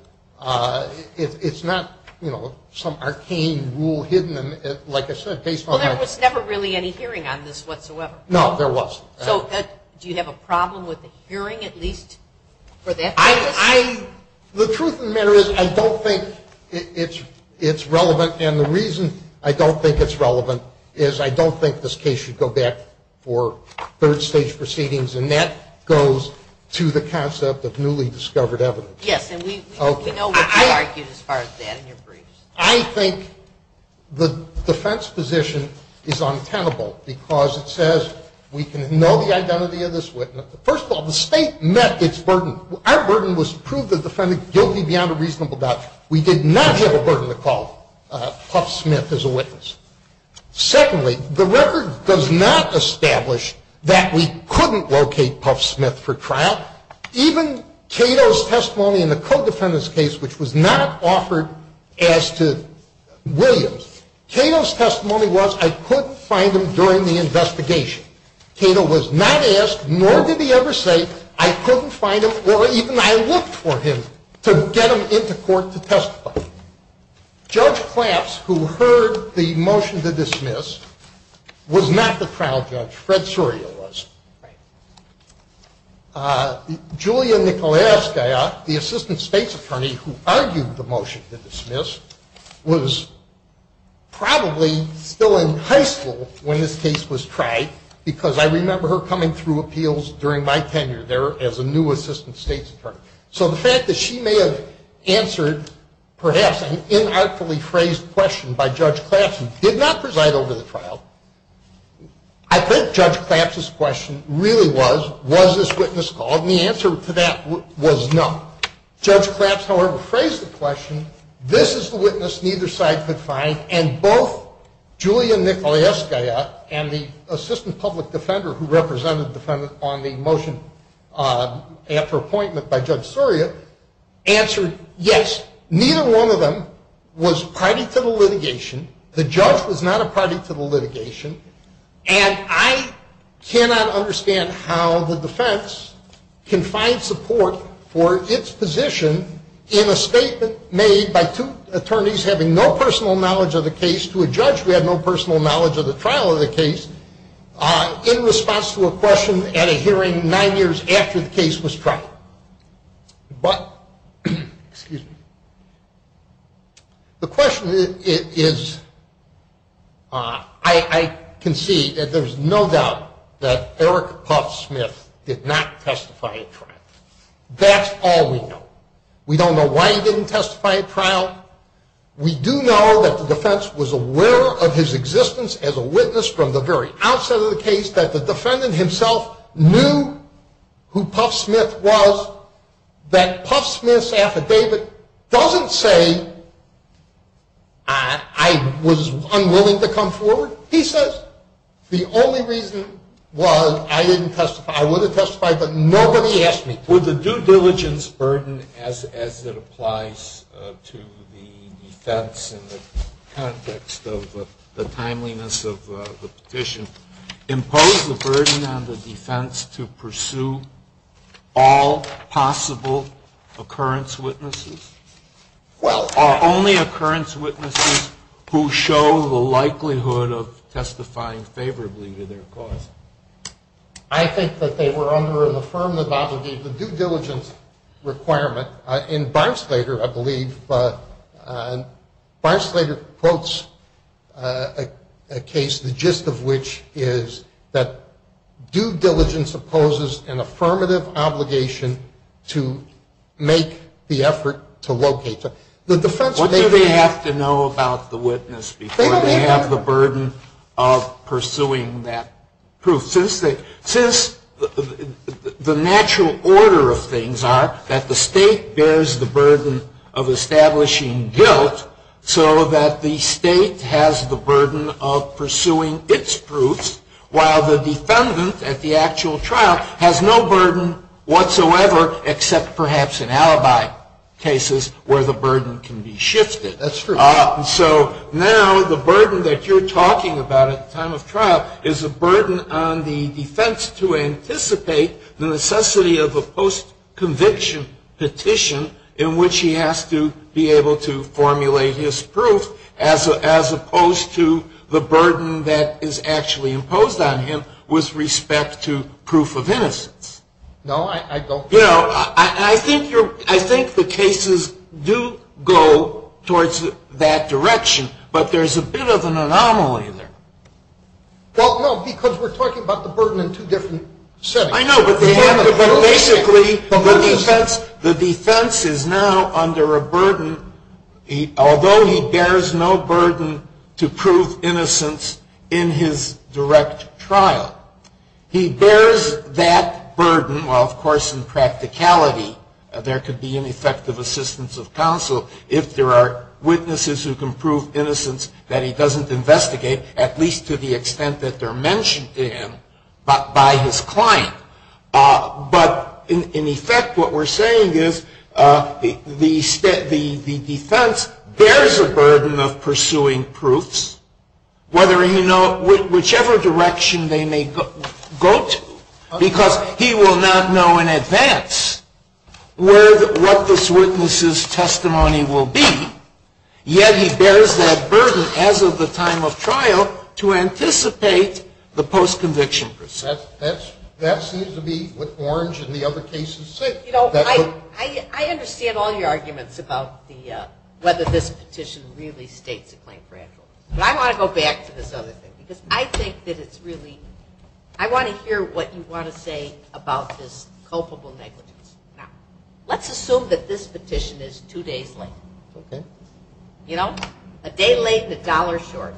It's not, you know, some arcane rule hidden, like I said, based on my. Well, there was never really any hearing on this whatsoever. No, there was. So do you have a problem with the hearing at least for that case? The truth of the matter is I don't think it's relevant, and the reason I don't think it's relevant is I don't think this case should go back for third stage proceedings, and that goes to the concept of newly discovered evidence. Yes, and we know what you argued as far as that in your briefs. I think the defense position is untenable because it says we can know the identity of this witness. First of all, the State met its burden. Our burden was to prove the defendant guilty beyond a reasonable doubt. We did not have a burden to call Puff Smith as a witness. Secondly, the record does not establish that we couldn't locate Puff Smith for trial. Now, even Cato's testimony in the co-defendant's case, which was not offered as to Williams, Cato's testimony was I couldn't find him during the investigation. Cato was not asked, nor did he ever say, I couldn't find him or even I looked for him to get him into court to testify. Judge Claps, who heard the motion to dismiss, was not the trial judge. Fred Soria was. Julia Nikolaevskaya, the assistant state's attorney who argued the motion to dismiss, was probably still in high school when this case was tried because I remember her coming through appeals during my tenure there as a new assistant state's attorney. So the fact that she may have answered perhaps an inartfully phrased question by Judge Claps I think Judge Claps's question really was, was this witness called? And the answer to that was no. Judge Claps, however, phrased the question, this is the witness neither side could find, and both Julia Nikolaevskaya and the assistant public defender who represented the defendant on the motion after appointment by Judge Soria answered yes. Neither one of them was party to the litigation. The judge was not a party to the litigation, and I cannot understand how the defense can find support for its position in a statement made by two attorneys having no personal knowledge of the case to a judge who had no personal knowledge of the trial of the case in response to a question at a hearing nine years after the case was tried. But, excuse me, the question is, I can see that there's no doubt that Eric Puff Smith did not testify at trial. That's all we know. We don't know why he didn't testify at trial. We do know that the defense was aware of his existence as a witness from the very outset of the case, that the defendant himself knew who Puff Smith was. That Puff Smith's affidavit doesn't say I was unwilling to come forward, he says. The only reason was I didn't testify. I would have testified, but nobody asked me to. Would the due diligence burden, as it applies to the defense in the context of the timeliness of the petition, impose the burden on the defense to pursue all possible occurrence witnesses? Well, are only occurrence witnesses who show the likelihood of testifying favorably to their cause? I think that they were under an affirmative obligation. The due diligence requirement in Barnsleder, I believe, Barnsleder quotes a case, the gist of which is that due diligence opposes an affirmative obligation to make the effort to locate. What do they have to know about the witness before they have the burden of pursuing that proof? Since the natural order of things are that the state bears the burden of establishing guilt, so that the state has the burden of pursuing its proofs, while the defendant at the actual trial has no burden whatsoever, except perhaps in alibi cases where the burden can be shifted. That's true. So now the burden that you're talking about at the time of trial is a burden on the defense to anticipate the necessity of a post-conviction petition in which he has to be able to formulate his proof, as opposed to the burden that is actually imposed on him with respect to proof of innocence. No, I don't think so. You know, I think the cases do go towards that direction, but there's a bit of an anomaly there. Well, no, because we're talking about the burden in two different settings. I know, but basically the defense is now under a burden, although he bears no burden to prove innocence in his direct trial. He bears that burden, while of course in practicality there could be ineffective assistance of counsel if there are witnesses who can prove innocence that he doesn't investigate, at least to the extent that they're mentioned to him by his client. But in effect what we're saying is the defense bears a burden of pursuing proofs, whichever direction they may go to, because he will not know in advance what this witness's testimony will be. Yet he bears that burden as of the time of trial to anticipate the post-conviction procedure. That seems to be what Orange and the other cases say. You know, I understand all your arguments about whether this petition really states a claim for actual. But I want to go back to this other thing, because I think that it's really, I want to hear what you want to say about this culpable negligence. Let's assume that this petition is two days late. You know, a day late and a dollar short.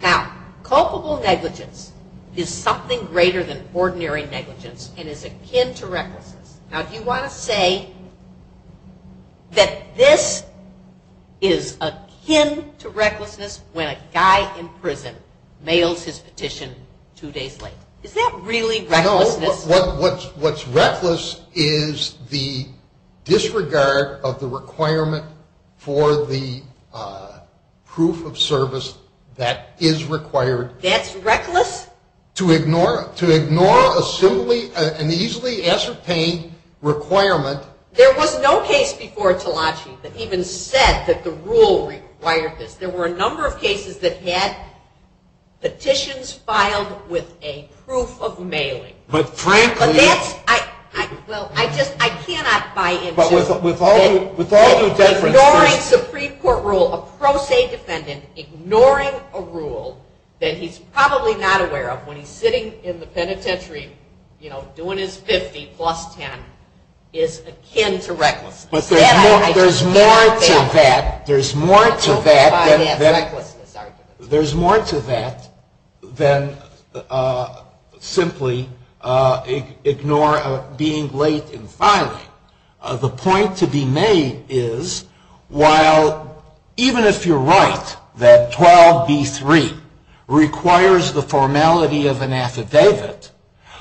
Now, culpable negligence is something greater than ordinary negligence and is akin to recklessness. Now, do you want to say that this is akin to recklessness when a guy in prison mails his petition two days late? Is that really recklessness? No. What's reckless is the disregard of the requirement for the proof of service that is required. That's reckless? To ignore a simply and easily ascertained requirement. There was no case before Talachi that even said that the rule required this. There were a number of cases that had petitions filed with a proof of mailing. But frankly. But that's, I, well, I just, I cannot buy into. But with all due, with all due deference. Ignoring Supreme Court rule, a pro se defendant ignoring a rule that he's probably not aware of when he's sitting in the penitentiary, you know, doing his 50 plus 10, is akin to recklessness. But there's more to that. There's more to that. There's more to that than simply ignore being late in filing. The point to be made is while even if you're right that 12B3 requires the formality of an affidavit,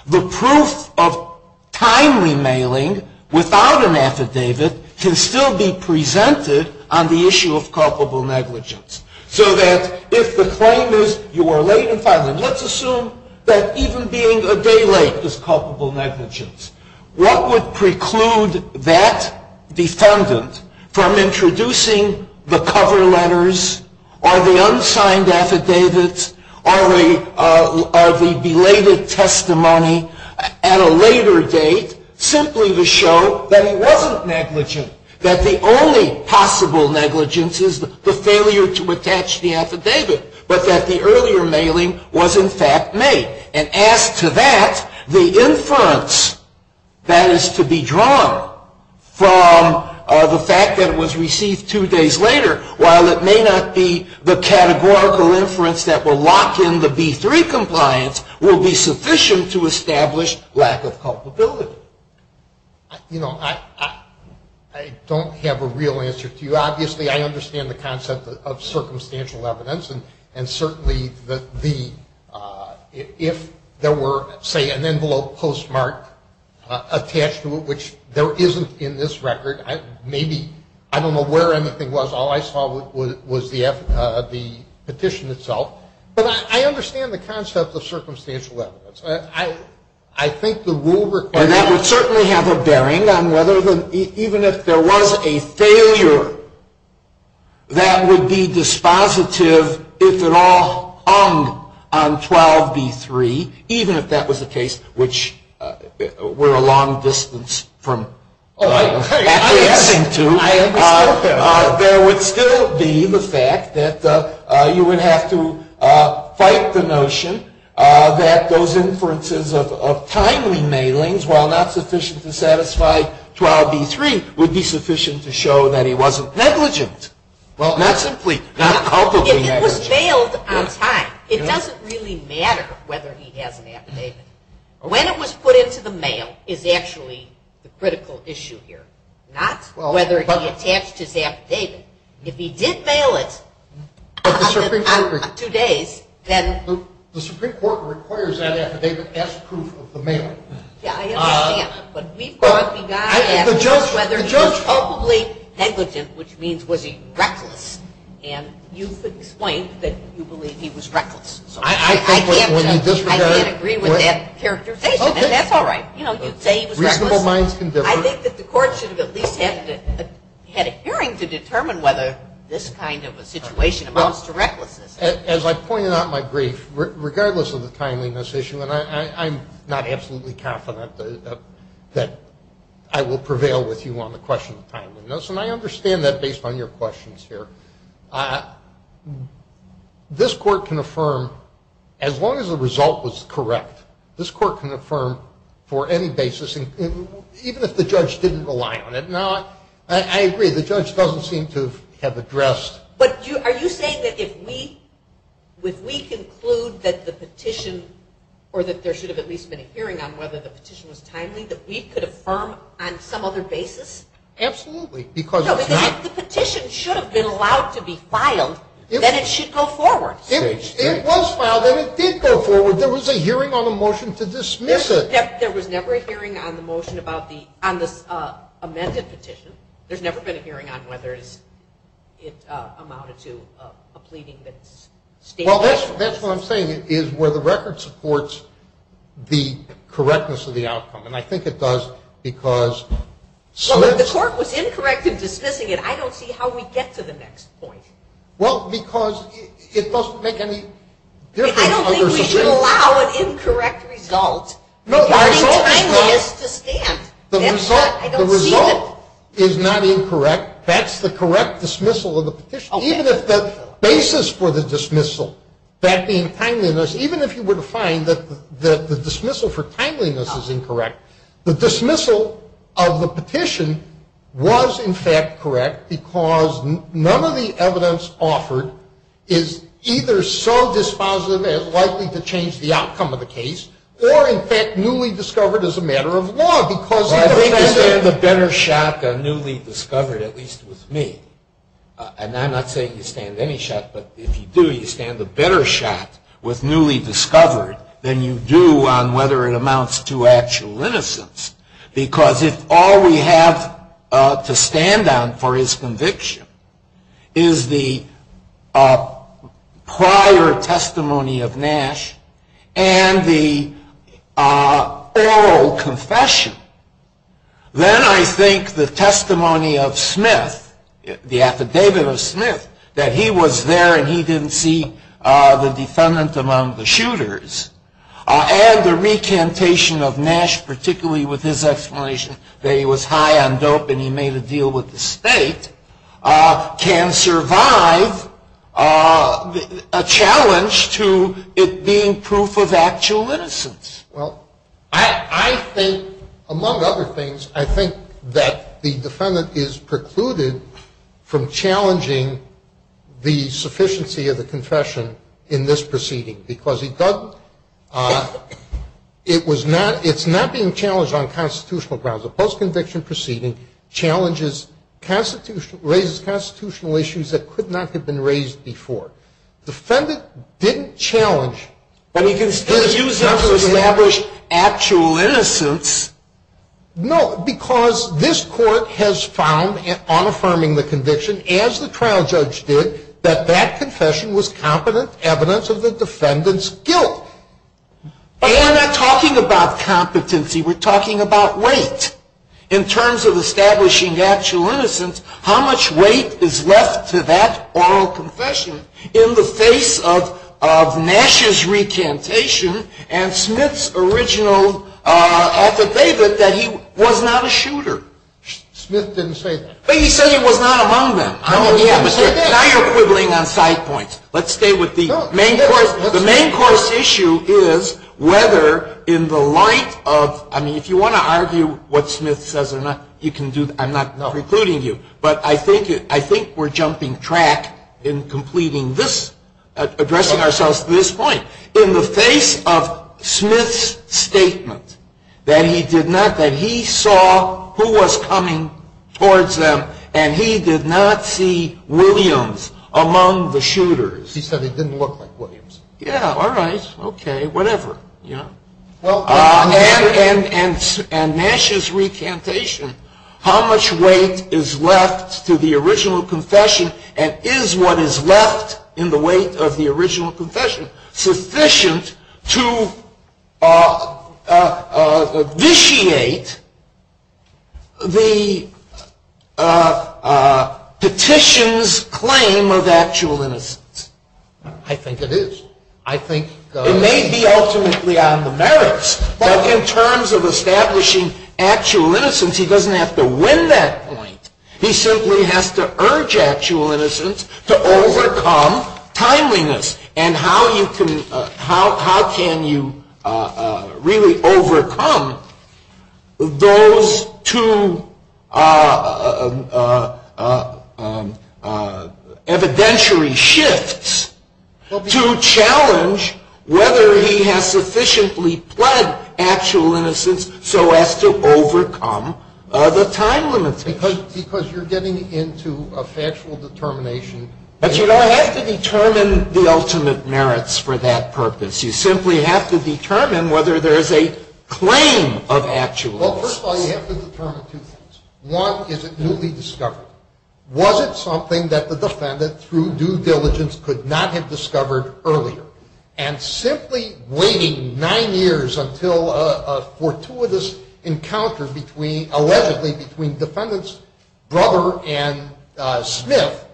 the proof of timely mailing without an affidavit can still be presented on the issue of culpable negligence. So that if the claim is you are late in filing, let's assume that even being a day late is culpable negligence. What would preclude that defendant from introducing the cover letters or the unsigned affidavits or the belated testimony at a later date simply to show that he wasn't negligent. That the only possible negligence is the failure to attach the affidavit. But that the earlier mailing was in fact made. And as to that, the inference that is to be drawn from the fact that it was received two days later, while it may not be the categorical inference that will lock in the B3 compliance, will be sufficient to establish lack of culpability. You know, I don't have a real answer to you. Obviously I understand the concept of circumstantial evidence. And certainly if there were, say, an envelope postmarked attached to it, which there isn't in this record. Maybe, I don't know where anything was. All I saw was the petition itself. But I understand the concept of circumstantial evidence. I think the rule requires. And that would certainly have a bearing on whether even if there was a failure, that would be dispositive if it all hung on 12B3. Even if that was the case, which we're a long distance from addressing to. I understand that. There would still be the fact that you would have to fight the notion that those inferences of timely mailings, while not sufficient to satisfy 12B3, would be sufficient to show that he wasn't negligent. Well, not simply, not culpably negligent. If it was mailed on time, it doesn't really matter whether he has an affidavit. When it was put into the mail is actually the critical issue here. Not whether he attached his affidavit. If he did mail it on two days, then. The Supreme Court requires that affidavit as proof of the mailing. Yeah, I understand. But we've got the guy asking us whether he was culpably negligent, which means was he reckless. And you've explained that you believe he was reckless. I can't agree with that characterization. And that's all right. You know, you'd say he was reckless. Reasonable minds can differ. I think that the court should have at least had a hearing to determine whether this kind of a situation amounts to recklessness. As I pointed out in my brief, regardless of the timeliness issue, and I'm not absolutely confident that I will prevail with you on the question of timeliness, and I understand that based on your questions here, this court can affirm, as long as the result was correct, this court can affirm for any basis, even if the judge didn't rely on it. Now, I agree, the judge doesn't seem to have addressed. But are you saying that if we conclude that the petition or that there should have at least been a hearing on whether the petition was timely, that we could affirm on some other basis? Absolutely. No, if the petition should have been allowed to be filed, then it should go forward. It was filed and it did go forward. There was a hearing on the motion to dismiss it. There was never a hearing on the motion about the amended petition. There's never been a hearing on whether it amounted to a pleading that's stated. Well, that's what I'm saying, is where the record supports the correctness of the outcome. And I think it does because the court was incorrect in dismissing it. I don't see how we get to the next point. Well, because it doesn't make any difference. I don't think we should allow an incorrect result. No, the result is not. That's the correct dismissal of the petition. Even if the basis for the dismissal, that being timeliness, even if you were to find that the dismissal for timeliness is incorrect, the dismissal of the petition was, in fact, correct, because none of the evidence offered is either so dispositive as likely to change the outcome of the case or, in fact, newly discovered as a matter of law. Well, I think you stand a better shot than newly discovered, at least with me. And I'm not saying you stand any shot, but if you do, you stand a better shot with newly discovered than you do on whether it amounts to actual innocence, because if all we have to stand on for his conviction is the prior testimony of Nash and the oral confession, then I think the testimony of Smith, the affidavit of Smith, that he was there and he didn't see the defendant among the shooters, and the recantation of Nash, particularly with his explanation that he was high on dope and he made a deal with the state, can survive a challenge to it being proof of actual innocence. Well, I think, among other things, I think that the defendant is precluded from challenging the sufficiency of the confession in this proceeding, because it's not being challenged on constitutional grounds. A post-conviction proceeding raises constitutional issues that could not have been raised before. The defendant didn't challenge. But he can still use that to establish actual innocence. No, because this Court has found on affirming the conviction, as the trial judge did, that that confession was competent evidence of the defendant's guilt. But we're not talking about competency. We're talking about weight. In terms of establishing actual innocence, how much weight is left to that oral confession in the face of Nash's recantation and Smith's original affidavit that he was not a shooter? Smith didn't say that. But he said he was not among them. Now you're quibbling on side points. Let's stay with the main course. The main course issue is whether, in the light of, I mean, if you want to argue what Smith says or not, you can do that. I'm not precluding you. But I think we're jumping track in completing this, addressing ourselves to this point. In the face of Smith's statement that he did not, who was coming towards them, and he did not see Williams among the shooters. He said he didn't look like Williams. Yeah, all right, okay, whatever. And Nash's recantation, how much weight is left to the original confession and is what is left in the weight of the original confession sufficient to vitiate the petition's claim of actual innocence? I think it is. It may be ultimately on the merits. But in terms of establishing actual innocence, he doesn't have to win that point. He simply has to urge actual innocence to overcome timeliness. And how can you really overcome those two evidentiary shifts to challenge whether he has sufficiently pled actual innocence so as to overcome the time limits? Because you're getting into a factual determination. But you don't have to determine the ultimate merits for that purpose. You simply have to determine whether there is a claim of actual innocence. Well, first of all, you have to determine two things. One, is it newly discovered? Was it something that the defendant, through due diligence, could not have discovered earlier? And simply waiting nine years until a fortuitous encounter allegedly between defendant's brother and Smith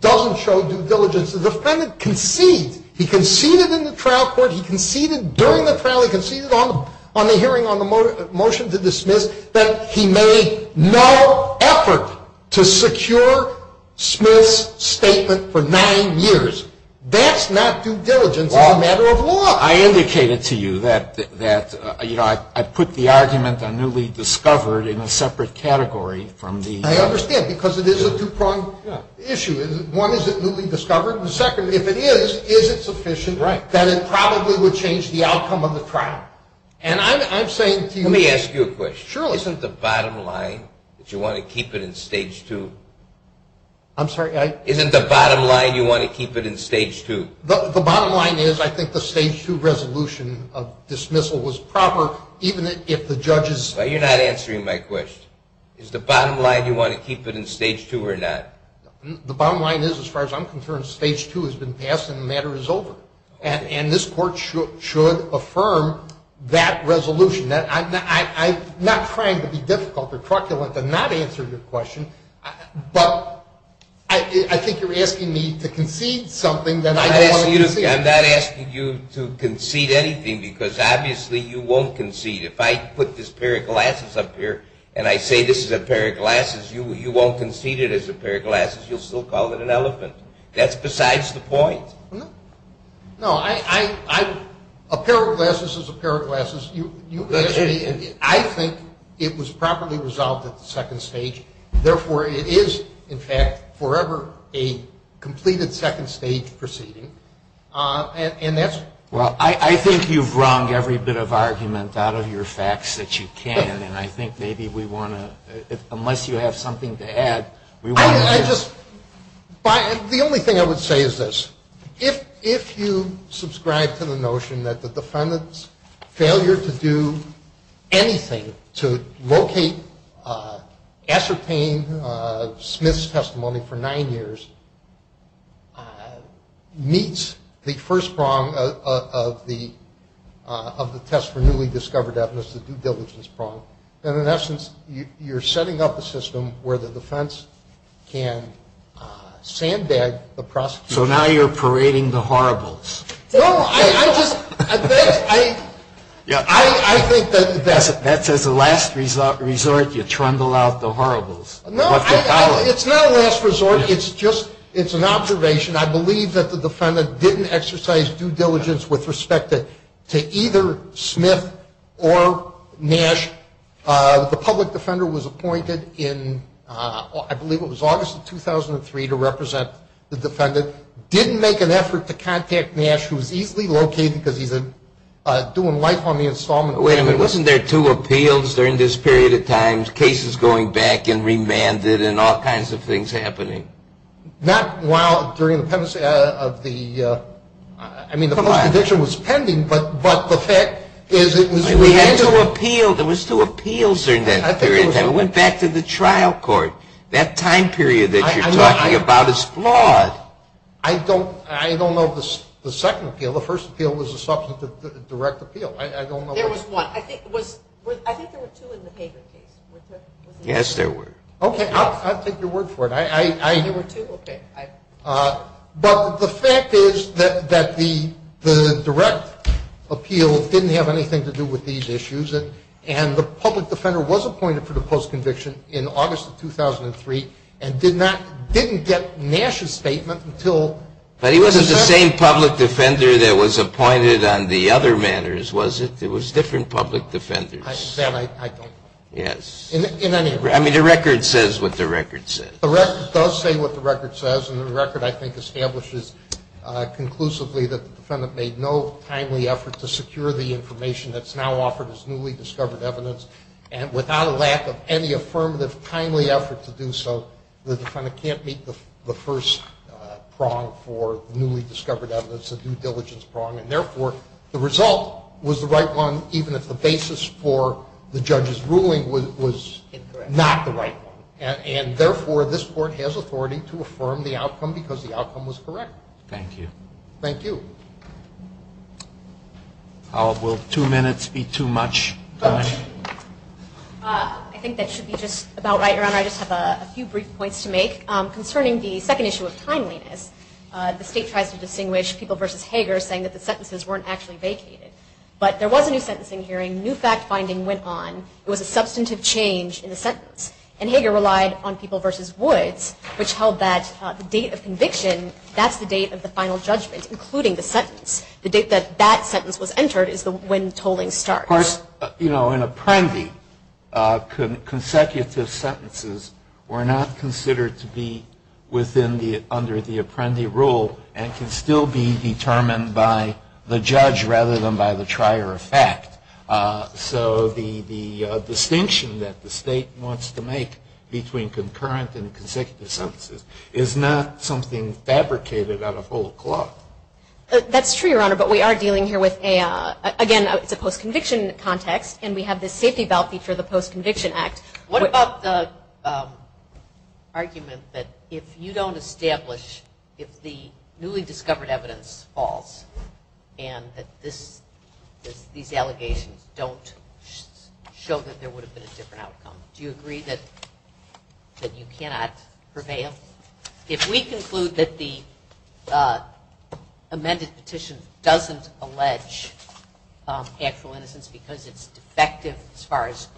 doesn't show due diligence. The defendant conceded. He conceded in the trial court. He conceded during the trial. He conceded on the hearing on the motion to dismiss that he made no effort to secure Smith's statement for nine years. That's not due diligence as a matter of law. Well, I indicated to you that, you know, I put the argument on newly discovered in a separate category from the other. I understand because it is a two-pronged issue. One, is it newly discovered? And second, if it is, is it sufficient that it probably would change the outcome of the trial? And I'm saying to you… Let me ask you a question. Surely. Isn't the bottom line that you want to keep it in Stage 2? I'm sorry, I… Isn't the bottom line you want to keep it in Stage 2? The bottom line is I think the Stage 2 resolution of dismissal was proper even if the judges… But you're not answering my question. Is the bottom line you want to keep it in Stage 2 or not? The bottom line is, as far as I'm concerned, Stage 2 has been passed and the matter is over. And this court should affirm that resolution. I'm not trying to be difficult or truculent and not answer your question. But I think you're asking me to concede something that I don't want to concede. I'm not asking you to concede anything because obviously you won't concede. If I put this pair of glasses up here and I say this is a pair of glasses, you won't concede it as a pair of glasses. You'll still call it an elephant. That's besides the point. No, I… A pair of glasses is a pair of glasses. I think it was properly resolved at the second stage. Therefore, it is, in fact, forever a completed second stage proceeding. And that's… Well, I think you've wrung every bit of argument out of your facts that you can. And I think maybe we want to, unless you have something to add, we want to… I just… The only thing I would say is this. If you subscribe to the notion that the defendant's failure to do anything to locate, ascertain Smith's testimony for nine years, meets the first prong of the test for newly discovered evidence, the due diligence prong, then in essence you're setting up a system where the defense can sandbag the prosecution. So now you're parading the horribles. No, I just… I think that… That's as a last resort, you trundle out the horribles. No, it's not a last resort. It's just… It's an observation. I believe that the defendant didn't exercise due diligence with respect to either Smith or Nash. The public defender was appointed in, I believe it was August of 2003, to represent the defendant. Didn't make an effort to contact Nash, who was easily located because he's doing life on the installment… Wait a minute. Wasn't there two appeals during this period of time, cases going back and remanded and all kinds of things happening? Not while during the… I mean, the first conviction was pending, but the fact is it was… We had two appeals. There was two appeals during that period of time. Went back to the trial court. That time period that you're talking about is flawed. I don't know the second appeal. The first appeal was a direct appeal. I don't know… There was one. I think there were two in the Pager case. Yes, there were. Okay. I'll take your word for it. There were two? Okay. But the fact is that the direct appeal didn't have anything to do with these issues, and the public defender was appointed for the post-conviction in August of 2003 and didn't get Nash's statement until… But he wasn't the same public defender that was appointed on the other matters, was it? It was different public defenders. That I don't know. Yes. In any… I mean, the record says what the record says. The record does say what the record says, and the record, I think, establishes conclusively that the defendant made no timely effort to secure the information that's now offered as newly discovered evidence, and without a lack of any affirmative timely effort to do so, the defendant can't meet the first prong for newly discovered evidence, a due diligence prong, and, therefore, the result was the right one, even if the basis for the judge's ruling was not the right one. And, therefore, this Court has authority to affirm the outcome because the outcome was correct. Thank you. Thank you. Will two minutes be too much? I think that should be just about right, Your Honor. I just have a few brief points to make. Concerning the second issue of timeliness, the State tries to distinguish People v. Hager saying that the sentences weren't actually vacated, but there was a new sentencing hearing, new fact-finding went on, it was a substantive change in the sentence. And Hager relied on People v. Woods, which held that the date of conviction, that's the date of the final judgment, including the sentence. The date that that sentence was entered is when tolling starts. Of course, you know, in Apprendi, consecutive sentences were not considered to be under the Apprendi rule and can still be determined by the judge rather than by the trier of fact. So the distinction that the State wants to make between concurrent and consecutive sentences is not something fabricated out of whole cloth. That's true, Your Honor, but we are dealing here with a, again, it's a post-conviction context, and we have this safety belt feature of the Post-Conviction Act. What about the argument that if you don't establish, if the newly discovered evidence falls and that these allegations don't show that there would have been a different outcome, do you agree that you cannot prevail? If we conclude that the amended petition doesn't allege actual innocence because it's defective as far as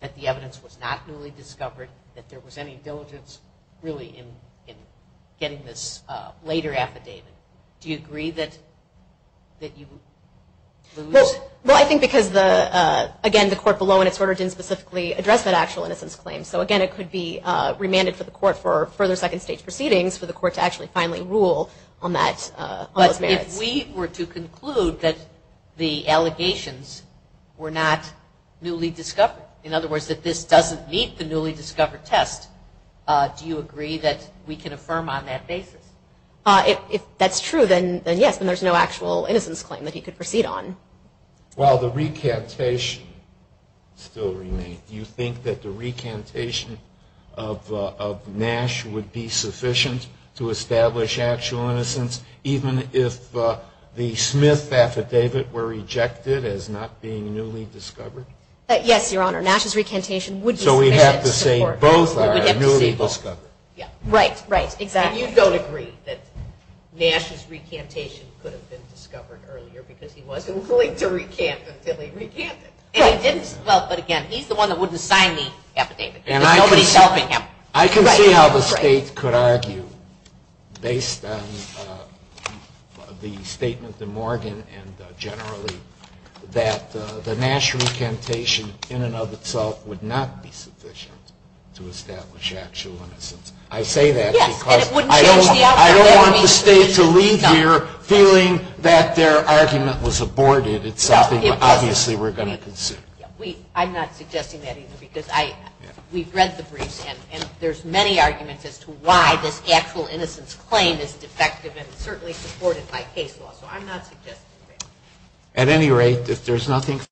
that the evidence was not newly discovered, that there was any diligence really in getting this later affidavit, do you agree that you lose? Well, I think because, again, the court below in its order didn't specifically address that actual innocence claim. So, again, it could be remanded for the court for further second stage proceedings for the court to actually finally rule on those merits. But if we were to conclude that the allegations were not newly discovered, in other words, that this doesn't meet the newly discovered test, do you agree that we can affirm on that basis? If that's true, then yes, and there's no actual innocence claim that he could proceed on. While the recantation still remains, do you think that the recantation of Nash would be sufficient to establish actual innocence, even if the Smith affidavit were rejected as not being newly discovered? Yes, Your Honor. Nash's recantation would be sufficient. So we have to say both are newly discovered. Right, right. Exactly. And you don't agree that Nash's recantation could have been discovered earlier because he wasn't willing to recant until he recanted. Well, but, again, he's the one that wouldn't sign the affidavit. There's nobody helping him. I can see how the state could argue based on the statement in Morgan and generally that the Nash recantation in and of itself would not be sufficient to establish actual innocence. I say that because I don't want the state to leave here feeling that their argument was aborted. It's something that obviously we're going to consider. I'm not suggesting that either because we've read the briefs and there's many arguments as to why this actual innocence claim is defective and certainly supported by case law. So I'm not suggesting that. At any rate, if there's nothing further to be said,